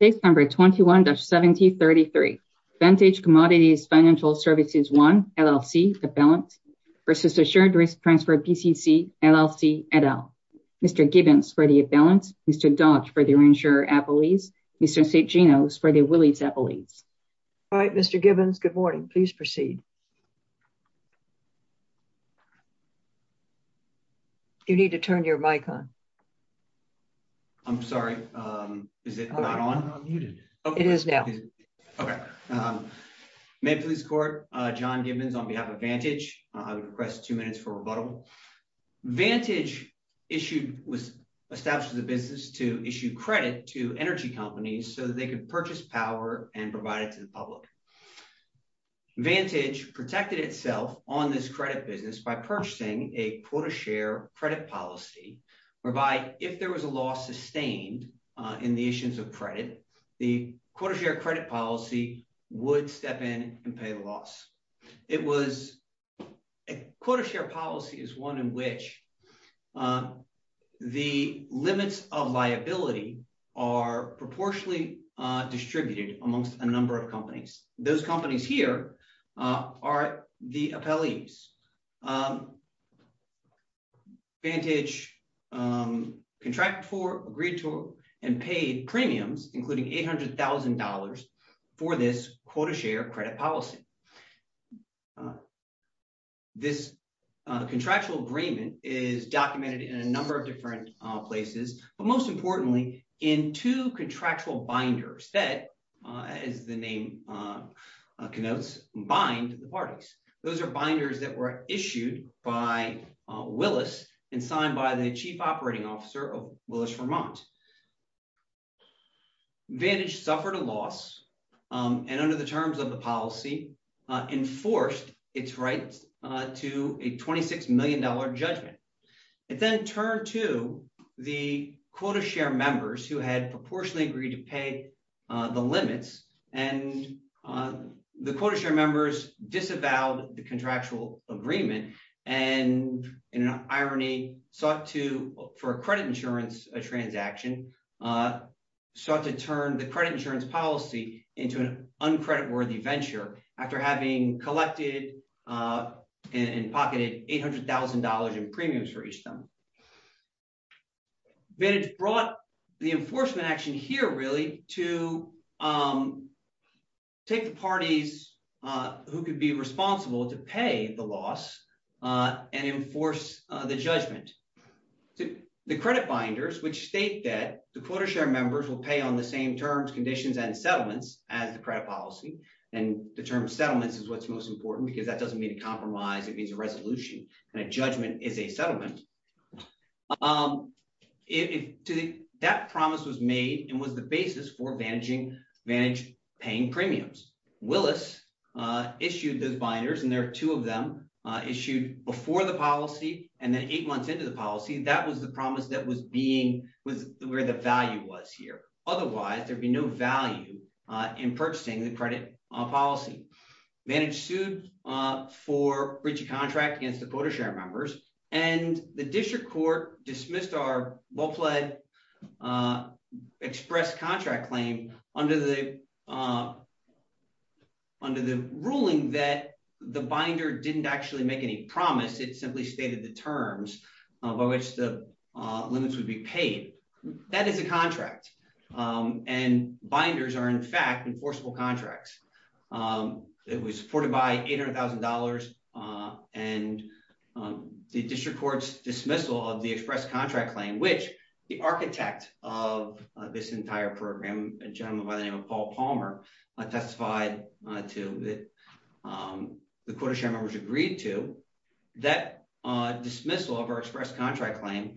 Page number 21-1733. Vantage Commodities Financial Services I, LLC, for balance, versus Assured Risk Transfer PCC, LLC, et al. Mr. Gibbons for the balance, Mr. Dodge for the reinsurer appellees, Mr. St. Gino for the willies appellees. All right, Mr. Gibbons, good morning. Please proceed. You need to turn your mic on. I'm sorry, is it not on? Oh, you're unmuted. Okay. It is now. Okay. May it please the court, John Gibbons on behalf of Vantage. I would request two minutes for rebuttal. Vantage was established as a business to issue credit to energy companies so that they could purchase power and provide it to the public. Vantage protected itself on this credit business by purchasing a pull-to-share credit policy whereby if there was a loss sustained in the issues of credit, the pull-to-share credit policy would step in and pay the loss. It was, a pull-to-share policy is one in which the limits of liability are proportionally distributed amongst a number of companies. Those companies here are the appellees. Vantage contracted for, agreed to, and paid premiums, including $800,000 for this pull-to-share credit policy. This contractual agreement is documented in a number of different places, but most importantly, in two contractual binders that as the name connotes, bind the parties. Those are binders that were issued by Willis and signed by the Chief Operating Officer of Willis-Vermont. Vantage suffered a loss, and under the terms of the policy, enforced its rights to a $26 million judgment. It then turned to the quota share members who had proportionally agreed to pay the limits, and the quota share members disavowed the contractual agreement, and in an irony, sought to, for a credit insurance transaction, sought to turn the credit insurance policy into an uncreditworthy venture, after having collected and pocketed $800,000 in premiums for each of them. Vantage brought the enforcement action here, really, to take the parties who could be responsible to pay the loss and enforce the judgment. The credit binders, which state that the quota share members will pay on the same terms, conditions, and settlements as the credit policy, and the term settlements is what's most important because that doesn't mean a compromise, it means a resolution, and a judgment is a settlement. That promise was made and was the basis for Vantage paying premiums. Willis issued those binders, and there are two of them, issued before the policy, and then eight months into the policy, that was the promise that was being, was where the value was here. Otherwise, there'd be no value in purchasing the credit policy. Vantage sued for breach of contract against the quota share members, and the district court dismissed our well-fled expressed contract claim under the ruling that the binder didn't actually make any promise, it simply stated the terms by which the limits would be paid. That is a contract, and binders are, in fact, enforceable contracts. It was supported by $800,000 and the district court's dismissal of the expressed contract claim, which the architect of this entire program, a gentleman by the name of Paul Palmer, testified to that the quota share members agreed to, that dismissal of our expressed contract claim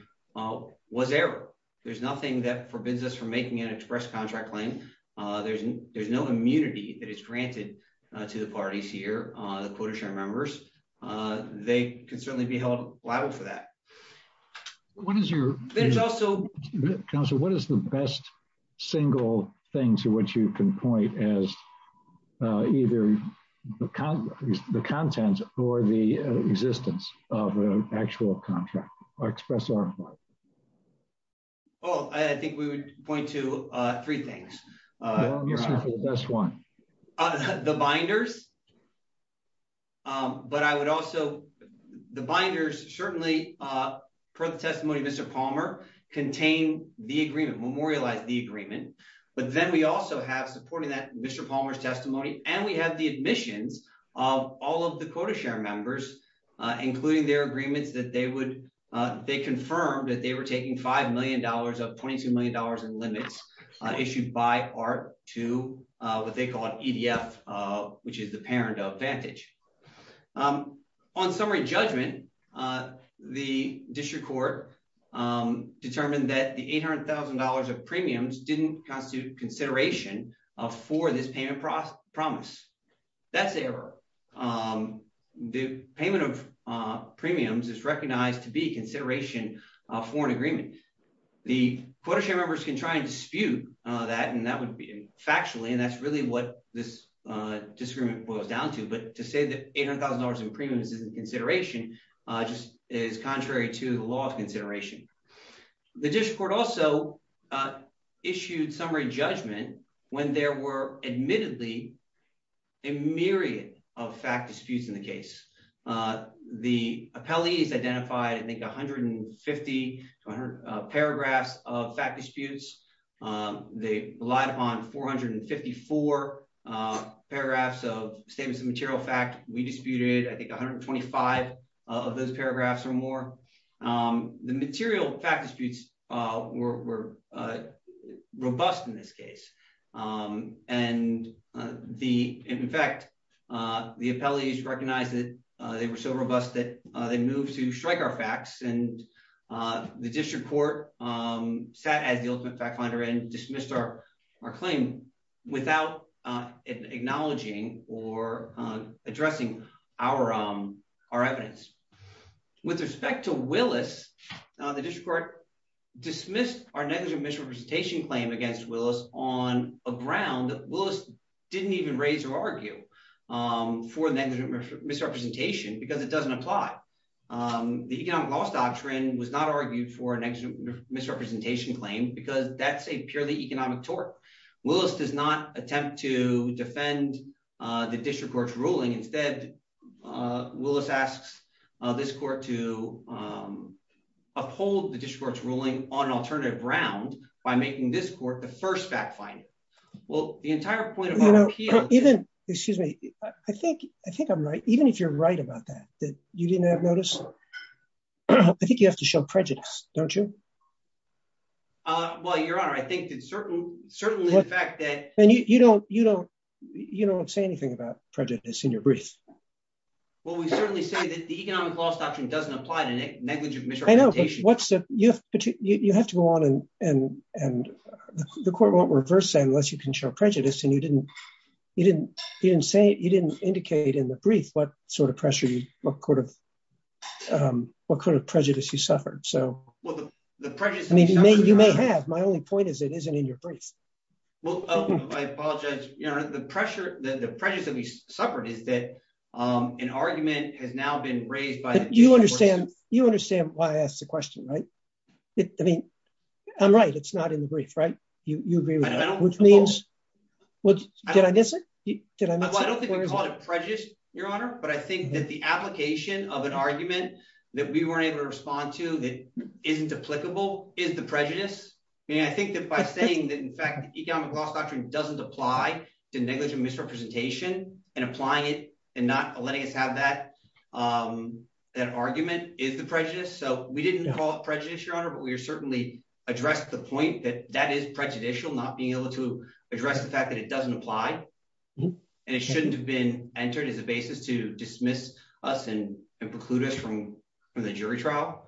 was error. There's nothing that forbids us from making an expressed contract claim. There's no immunity that is granted to the parties here. The quota share members, they can certainly be held liable for that. What is your- There's also- Counselor, what is the best single thing to which you can point as either the contents or the existence of an actual contract, or expressed or implied? Well, I think we would point to three things. Well, let me start with the best one. The binders, but I would also, the binders certainly, per the testimony of Mr. Palmer, contain the agreement, memorialize the agreement, but then we also have, supporting that Mr. Palmer's testimony, and we have the admissions of all of the quota share members, including their agreements that they would, they confirmed that they were taking $5 million of $22 million in limits issued by ART to what they call an EDF, which is the parent of Vantage. On summary judgment, the district court determined that the $800,000 of premiums didn't constitute consideration for this payment promise. That's error. The payment of premiums is recognized to be consideration for an agreement. The quota share members can try and dispute that, and that would be factually, and that's really what this disagreement boils down to, but to say that $800,000 in premiums isn't consideration just is contrary to the law of consideration. The district court also issued summary judgment when there were admittedly a myriad of fact disputes in the case. The appellees identified, I think, 150 to 100 paragraphs of fact disputes. They relied upon 454 paragraphs of statements of material fact. We disputed, I think, 125 of those paragraphs or more. The material fact disputes were robust in this case, and in fact, the appellees recognized that they were so robust that they moved to strike our facts, and the district court sat as the ultimate fact finder and dismissed our claim without acknowledging or addressing our evidence. With respect to Willis, the district court dismissed our negligent misrepresentation claim against Willis on a ground that Willis didn't even raise or argue for negligent misrepresentation because it doesn't apply. The economic loss doctrine was not argued for a negligent misrepresentation claim because that's a purely economic tort. Willis does not attempt to defend the district court's ruling. Instead, Willis asks this court to uphold the district court's ruling on an alternative ground by making this court the first fact finder. Well, the entire point of our appeal- Even, excuse me, I think I'm right. Even if you're right about that, that you didn't have notice, I think you have to show prejudice, don't you? Well, your honor, I think that certainly the fact that- And you don't say anything about prejudice in your brief. Well, we certainly say that the economic loss doctrine doesn't apply to negligent misrepresentation. I know, but you have to go on, and the court won't reverse that unless you can show prejudice, and you didn't indicate in the brief what sort of prejudice you suffered. So, I mean, you may have, my only point is it isn't in your brief. Well, I apologize. The pressure, the prejudice that we suffered is that an argument has now been raised by- You understand why I asked the question, right? I mean, I'm right. It's not in the brief, right? You agree with that, which means, did I miss it? Did I miss it? Well, I don't think we call it prejudice, your honor, but I think that the application of an argument that we weren't able to respond to that isn't applicable is the prejudice. I mean, I think that by saying that, in fact, the economic loss doctrine doesn't apply to negligent misrepresentation, and applying it and not letting us have that argument is the prejudice. So, we didn't call it prejudice, your honor, but we certainly addressed the point that that is prejudicial, not being able to address the fact that it doesn't apply. And it shouldn't have been entered as a basis to dismiss us and preclude us from the jury trial.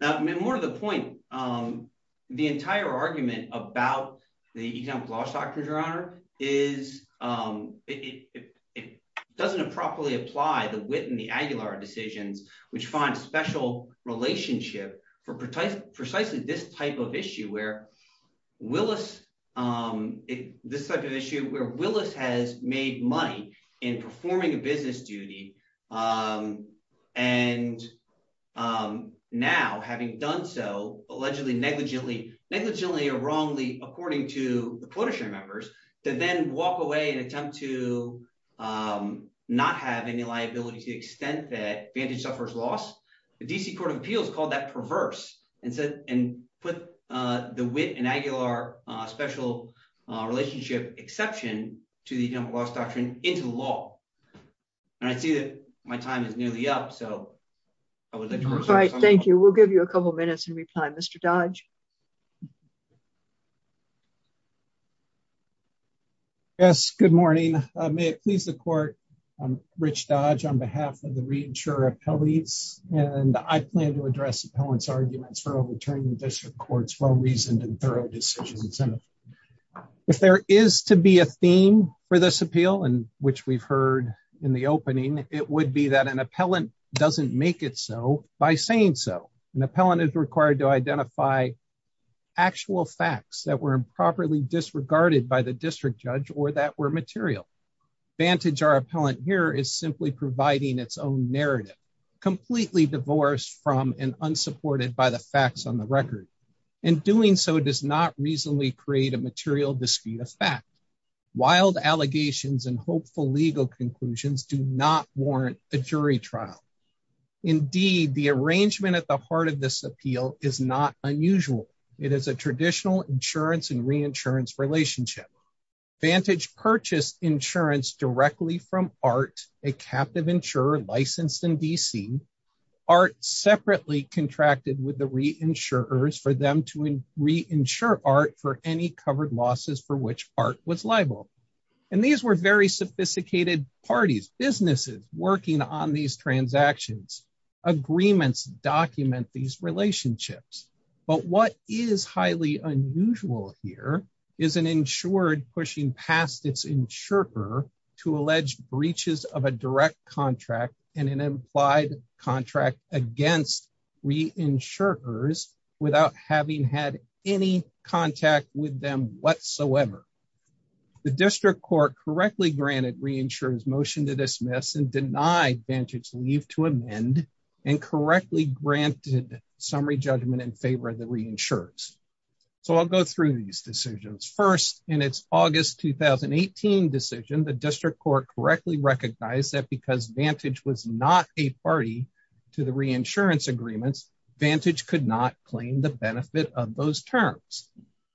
I mean, more to the point, the entire argument about the economic loss doctrine, your honor, it doesn't properly apply the Witt and the Aguilar decisions, which find a special relationship for precisely this type of issue, where Willis, this type of issue, where Willis has made money in performing a business duty, and now having done so, allegedly, negligently, negligently or wrongly, according to the quota share members to then walk away and attempt to not have any liability to the extent that Vantage suffers loss, the DC Court of Appeals called that perverse and put the Witt and Aguilar special relationship exception to the economic loss doctrine into the law. And I see that my time is nearly up, so I would like to- All right, thank you. We'll give you a couple of minutes in reply. Mr. Dodge. Yes, good morning. May it please the court, I'm Rich Dodge on behalf of the Reinsurer Appellees, and I plan to address appellant's arguments for overturning the district court's well-reasoned and thorough decisions. If there is to be a theme for this appeal, and which we've heard in the opening, it would be that an appellant doesn't make it so by saying so. An appellant is required to identify actual facts that were improperly disregarded by the district judge or that were material. Vantage, our appellant here, is simply providing its own narrative, completely divorced from and unsupported by the facts on the record, and doing so does not reasonably create a material discreet effect. Wild allegations and hopeful legal conclusions do not warrant a jury trial. Indeed, the arrangement at the heart of this appeal is not unusual. It is a traditional insurance and reinsurance relationship. Vantage purchased insurance directly from ART, a captive insurer licensed in DC. ART separately contracted with the reinsurers for them to reinsure ART for any covered losses for which ART was liable. And these were very sophisticated parties, businesses working on these transactions. Agreements document these relationships. But what is highly unusual here is an insured pushing past its insurer to allege breaches of a direct contract and an implied contract against reinsurers without having had any contact with them whatsoever. The district court correctly granted reinsurers motion to dismiss and denied Vantage leave to amend and correctly granted summary judgment in favor of the reinsurers. So I'll go through these decisions. First, in its August, 2018 decision, the district court correctly recognized that because Vantage was not a party to the reinsurance agreements, Vantage could not claim the benefit of those terms.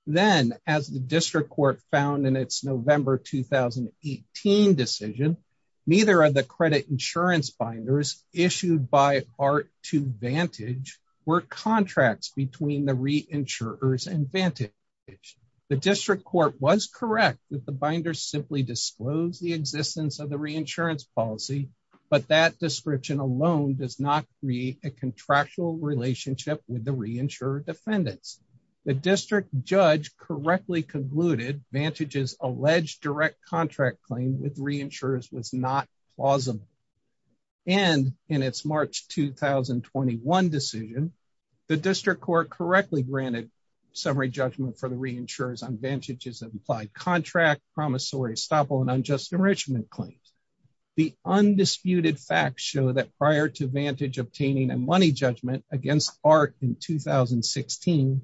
Then as the district court found in its November, 2018 decision, neither of the credit insurance binders issued by ART to Vantage were contracts between the reinsurers and Vantage. The district court was correct that the binders simply disclose the existence of the reinsurance policy, but that description alone does not create a contractual relationship with the reinsurer defendants. The district judge correctly concluded Vantage's alleged direct contract claim with reinsurers was not plausible. And in its March, 2021 decision, the district court correctly granted summary judgment for the reinsurers on Vantage's implied contract, promissory estoppel, and unjust enrichment claims. The undisputed facts show that prior to Vantage obtaining a money judgment against ART in 2016,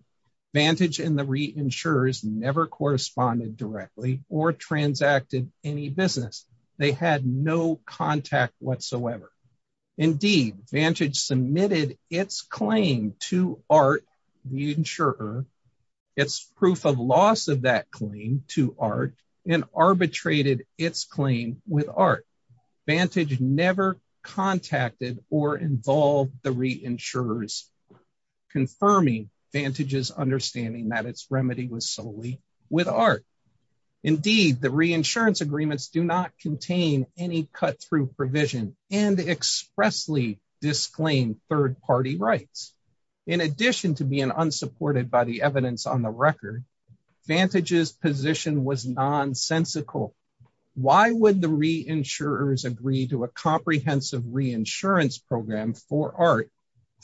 Vantage and the reinsurers never corresponded directly or transacted any business. They had no contact whatsoever. Indeed, Vantage submitted its claim to ART reinsurer, its proof of loss of that claim to ART, and arbitrated its claim with ART. Vantage never contacted or involved the reinsurers, confirming Vantage's understanding that its remedy was solely with ART. Indeed, the reinsurance agreements do not contain any cut-through provision and expressly disclaim third-party rights. In addition to being unsupported by the evidence on the record, Vantage's position was nonsensical. Why would the reinsurers agree to a comprehensive reinsurance program for ART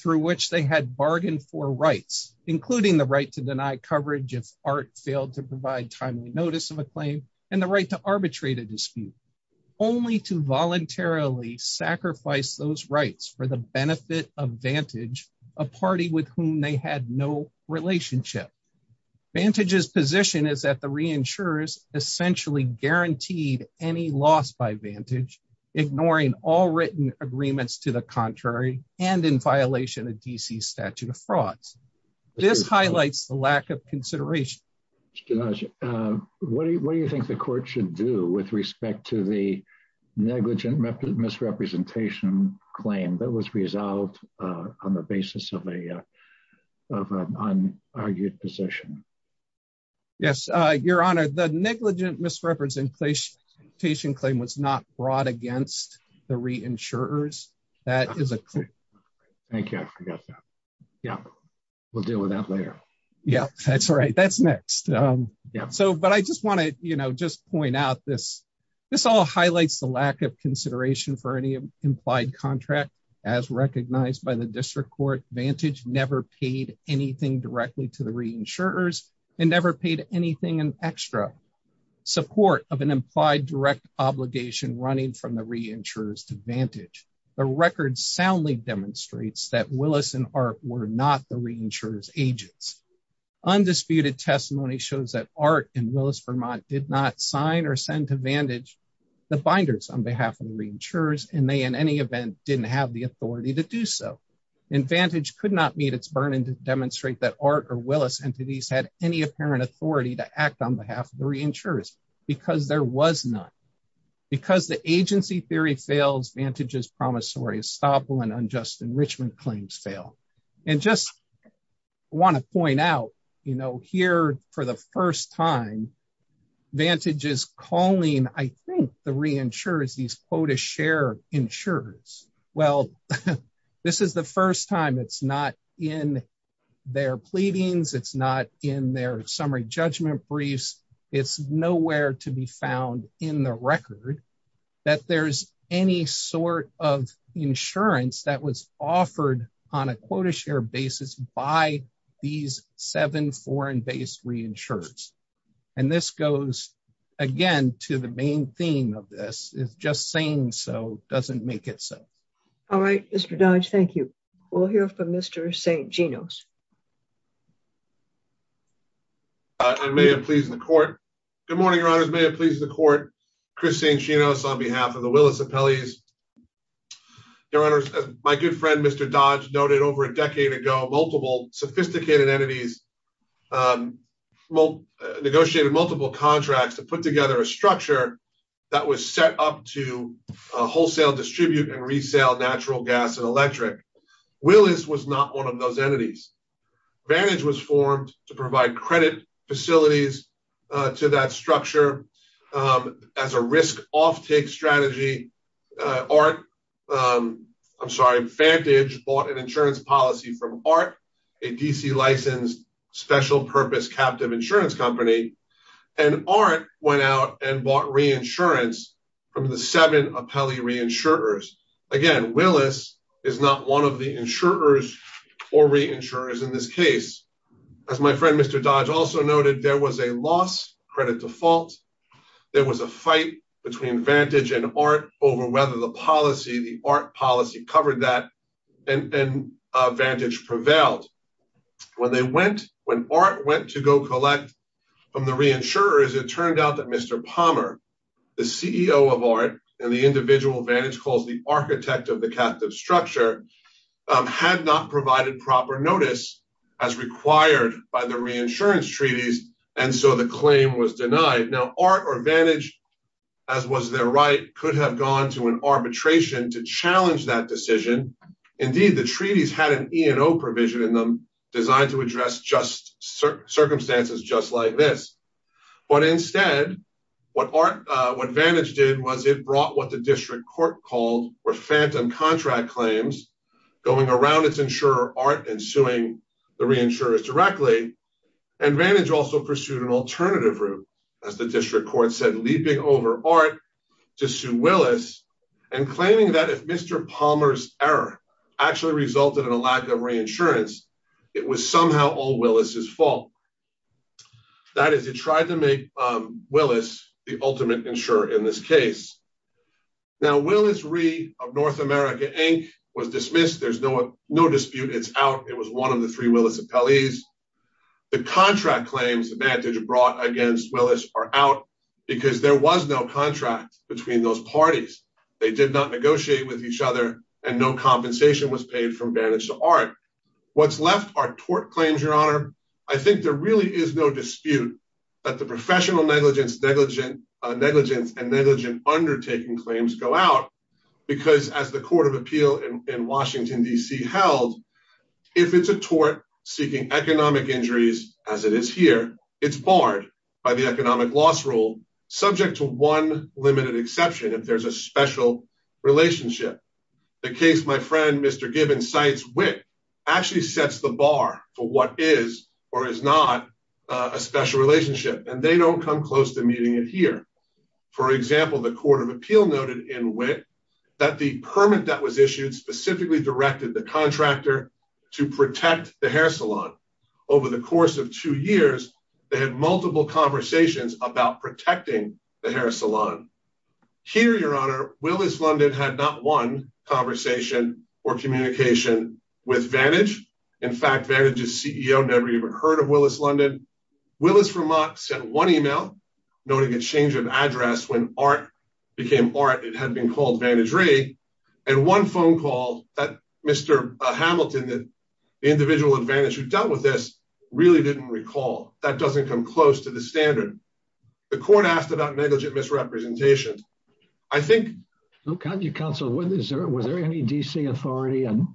through which they had bargained for rights, including the right to deny coverage if ART failed to provide timely notice of a claim, and the right to arbitrate a dispute, only to voluntarily sacrifice those rights for the benefit of Vantage, a party with whom they had no relationship? Vantage's position is that the reinsurers essentially guaranteed any loss by Vantage, ignoring all written agreements to the contrary and in violation of D.C.'s statute of frauds. This highlights the lack of consideration. Mr. Dodge, what do you think the court should do with respect to the negligent misrepresentation claim that was resolved on the basis of an argued position? Yes, Your Honor. The negligent misrepresentation claim was not brought against the reinsurers. That is a claim. Thank you, I forgot that. Yeah, we'll deal with that later. Yeah, that's right, that's next. So, but I just wanna just point out this. This all highlights the lack of consideration for any implied contract as recognized by the district court. Vantage never paid anything directly to the reinsurers and never paid anything in extra. Support of an implied direct obligation running from the reinsurers to Vantage. The record soundly demonstrates that Willis and ART were not the reinsurer's agents. Undisputed testimony shows that ART and Willis-Vermont did not sign or send to Vantage the binders on behalf of the reinsurers and they in any event didn't have the authority to do so. And Vantage could not meet its burden to demonstrate that ART or Willis entities had any apparent authority to act on behalf of the reinsurers because there was none. Because the agency theory fails, Vantage's promissory estoppel and unjust enrichment claims fail. And just wanna point out, here for the first time, Vantage is calling I think the reinsurers these quota share insurers. Well, this is the first time it's not in their pleadings, it's not in their summary judgment briefs, it's nowhere to be found in the record that there's any sort of insurance that was offered on a quota share basis by these seven foreign-based reinsurers. And this goes again to the main theme of this is just saying so doesn't make it so. All right, Mr. Dodge, thank you. We'll hear from Mr. St. Gino's. And may it please the court. Good morning, your honors, may it please the court. Chris St. Gino's on behalf of the Willis Appellees. Your honors, my good friend, Mr. Dodge noted over a decade ago, multiple sophisticated entities negotiated multiple contracts to put together a structure that was set up to wholesale distribute and resale natural gas and electric. Willis was not one of those entities. Vantage was formed to provide credit facilities to that structure. As a risk offtake strategy, I'm sorry, Vantage bought an insurance policy from ART, a DC licensed special purpose captive insurance company. And ART went out and bought reinsurance from the seven appellee reinsurers. Again, Willis is not one of the insurers or reinsurers in this case. As my friend, Mr. Dodge also noted, there was a loss credit default. There was a fight between Vantage and ART over whether the policy, the ART policy covered that and Vantage prevailed. When ART went to go collect from the reinsurers, it turned out that Mr. Palmer, the CEO of ART and the individual Vantage calls the architect of the captive structure had not provided proper notice as required by the reinsurance treaties. And so the claim was denied. Now, ART or Vantage, as was their right, could have gone to an arbitration to challenge that decision. Indeed, the treaties had an E and O provision in them designed to address circumstances just like this. But instead, what Vantage did was it brought what the district court called were phantom contract claims, going around its insurer ART and suing the reinsurers directly. And Vantage also pursued an alternative route as the district court said, leaping over ART to sue Willis and claiming that if Mr. Palmer's error actually resulted in a lack of reinsurance, it was somehow all Willis' fault. That is, it tried to make Willis the ultimate insurer in this case. Now, Willis Rhee of North America Inc. was dismissed. There's no dispute. It's out. It was one of the three Willis appellees. The contract claims Vantage brought against Willis are out because there was no contract between those parties. They did not negotiate with each other and no compensation was paid from Vantage to ART. What's left are tort claims, Your Honor. I think there really is no dispute that the professional negligence and negligent undertaking claims go out because as the Court of Appeal in Washington, D.C. held, if it's a tort seeking economic injuries, as it is here, it's barred by the economic loss rule subject to one limited exception if there's a special relationship. The case my friend, Mr. Gibbons, cites Witt actually sets the bar for what is or is not a special relationship and they don't come close to meeting it here. For example, the Court of Appeal noted in Witt that the permit that was issued specifically directed the contractor to protect the hair salon. Over the course of two years, they had multiple conversations about protecting the hair salon. Here, Your Honor, Willis London had not one conversation or communication with Vantage. In fact, Vantage's CEO never even heard of Willis London. Willis Vermont sent one email noting a change of address when ART became ART it had been called Vantage Ray and one phone call that Mr. Hamilton, that the individual advantage who dealt with this really didn't recall. That doesn't come close to the standard. The court asked about negligent misrepresentation. I think- Look, how do you counsel, was there any DC authority on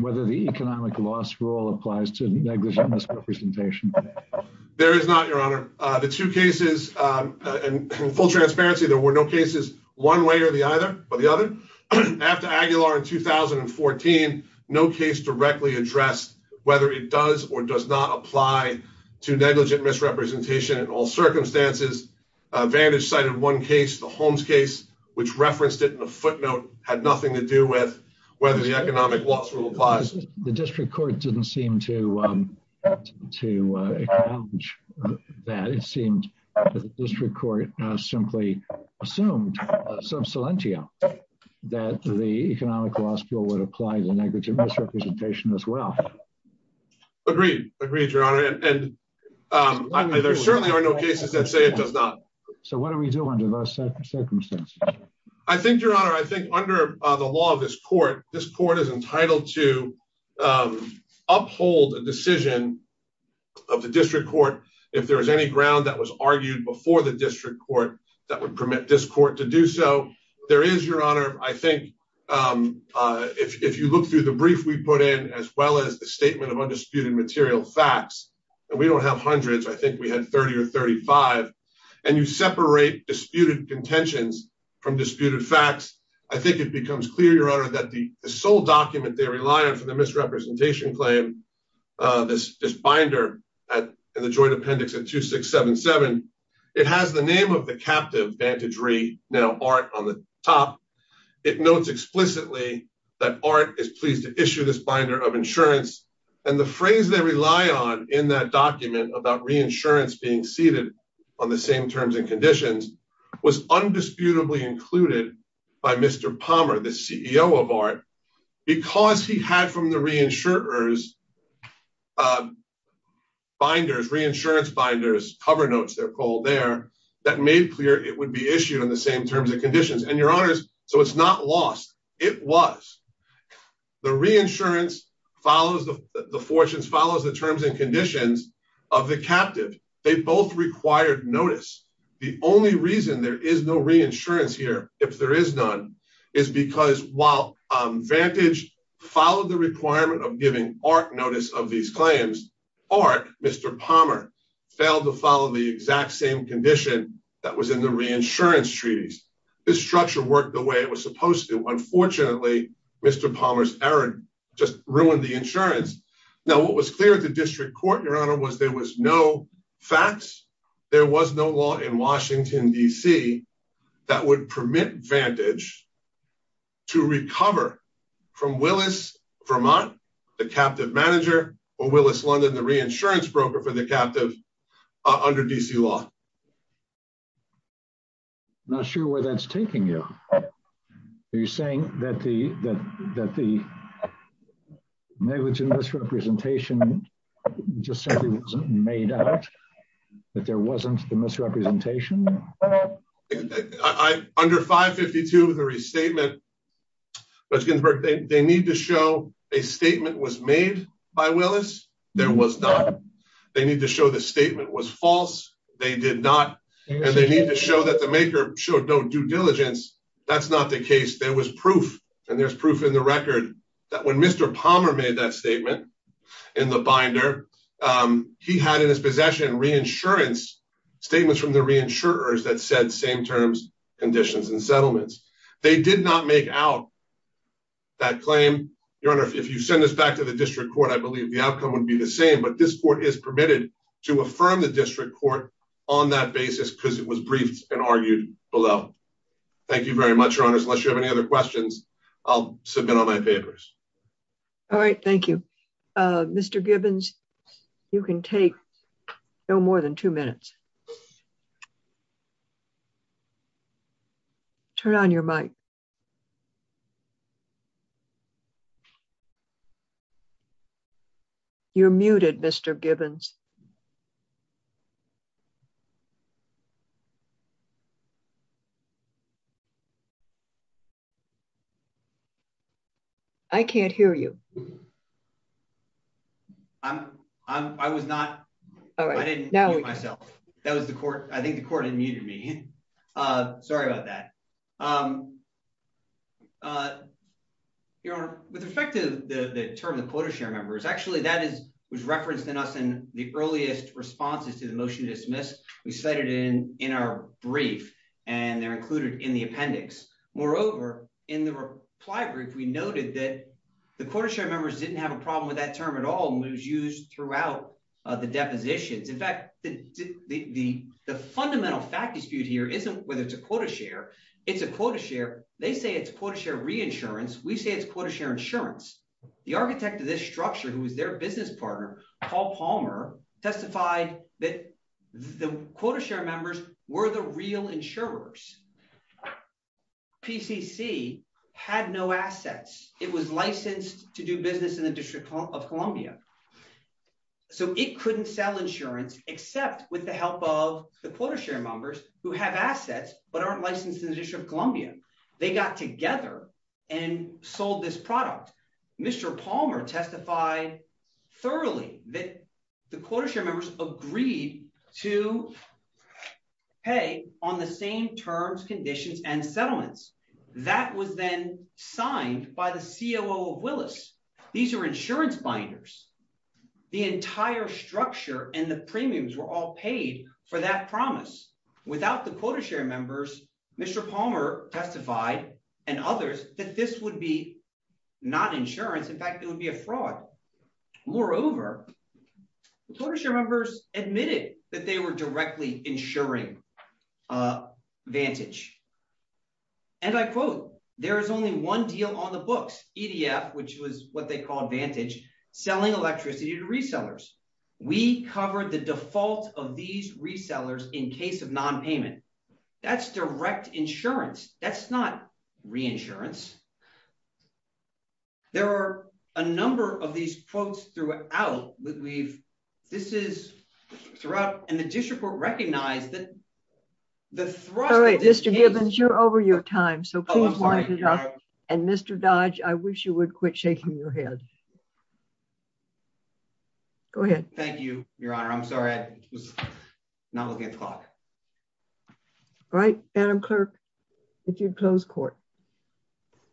whether the economic loss rule applies to negligent misrepresentation? There is not, Your Honor. The two cases, in full transparency, there were no cases one way or the other. After Aguilar in 2014, no case directly addressed whether it does or does not apply to negligent misrepresentation in all circumstances. Vantage cited one case, the Holmes case, which referenced it in a footnote, had nothing to do with whether the economic loss rule applies. The district court didn't seem to acknowledge that. It seemed that the district court simply assumed some solentia that the economic loss rule would apply to negligent misrepresentation as well. Agreed, agreed, Your Honor. And there certainly are no cases that say it does not. So what do we do under those circumstances? I think, Your Honor, I think under the law of this court, this court is entitled to uphold a decision of the district court if there is any ground that was argued before the district court that would permit this court to do so. There is, Your Honor, I think, if you look through the brief we put in, as well as the statement of undisputed material facts, and we don't have hundreds, I think we had 30 or 35, and you separate disputed contentions from disputed facts, I think it becomes clear, Your Honor, that the sole document they rely on for the misrepresentation claim, this binder in the joint appendix at 2677, it has the name of the captive Vantage Re, now Art, on the top. It notes explicitly that Art is pleased to issue this binder of insurance, and the phrase they rely on in that document about reinsurance being ceded on the same terms and conditions was undisputably included by Mr. Palmer, the CEO of Art, because he had from the reinsurer's binders, reinsurance binders, cover notes, they're called there, that made clear it would be issued on the same terms and conditions, and, Your Honors, so it's not lost. It was. The reinsurance follows the fortunes, follows the terms and conditions of the captive. They both required notice. The only reason there is no reinsurance here, if there is none, is because while Vantage followed the requirement of giving Art notice of these claims, Art, Mr. Palmer, failed to follow the exact same condition that was in the reinsurance treaties. This structure worked the way it was supposed to. Unfortunately, Mr. Palmer's error just ruined the insurance. Now, what was clear at the district court, Your Honor, was there was no facts. There was no law in Washington, D.C. that would permit Vantage to recover from Willis-Vermont, the captive manager, or Willis-London, the reinsurance broker for the captive under D.C. law. I'm not sure where that's taking you. Are you saying that the negligent misrepresentation just simply wasn't made out, that there wasn't the misrepresentation? Under 552, the restatement, Judge Ginsburg, they need to show a statement was made by Willis. There was not. They need to show the statement was false. They did not. And they need to show that the maker showed no due diligence. That's not the case. There was proof, and there's proof in the record, that when Mr. Palmer made that statement in the binder, he had in his possession reinsurance, statements from the reinsurers that said same terms, conditions, and settlements. They did not make out that claim. Your Honor, if you send this back to the district court, I believe the outcome would be the same, but this court is permitted to affirm the district court on that basis, because it was briefed and argued below. Thank you very much, Your Honors. Unless you have any other questions, I'll submit on my papers. All right, thank you. Mr. Gibbons, you can take no more than two minutes. Turn on your mic. You're muted, Mr. Gibbons. I can't hear you. I'm, I was not, I didn't mute myself. That was the court, I think the court had muted me. Sorry about that. Your Honor, with respect to the term of the quota share members, actually that was referenced in us in the earliest responses to the motion to dismiss. We cited it in our brief, and they're included in the appendix. Moreover, in the reply brief, we noted that the quota share members didn't have a problem with that term at all, and it was used throughout the depositions. In fact, the fundamental fact dispute here isn't whether it's a quota share, it's a quota share. They say it's quota share reinsurance. We say it's quota share insurance. The architect of this structure, who was their business partner, Paul Palmer, testified that the quota share members were the real insurers. PCC had no assets. It was licensed to do business in the District of Columbia. So it couldn't sell insurance, except with the help of the quota share members who have assets, but aren't licensed in the District of Columbia. They got together and sold this product. Mr. Palmer testified thoroughly that the quota share members agreed to pay on the same terms, conditions, and settlements. That was then signed by the COO of Willis. These are insurance binders. The entire structure and the premiums were all paid for that promise. Without the quota share members, Mr. Palmer testified and others that this would be not insurance. In fact, it would be a fraud. Moreover, the quota share members admitted that they were directly insuring Vantage. And I quote, there is only one deal on the books, EDF, which was what they call Vantage, selling electricity to resellers. We covered the default of these resellers in case of non-payment. That's direct insurance. That's not re-insurance. There are a number of these quotes throughout that we've, this is throughout, and the district will recognize that the thrust of this case- Oh, I'm sorry, Your Honor. And Mr. Dodge, I wish you would quit shaking your head. Go ahead. Thank you, Your Honor. I'm sorry, I was not looking at the clock. All right, Madam Clerk, if you'd close court.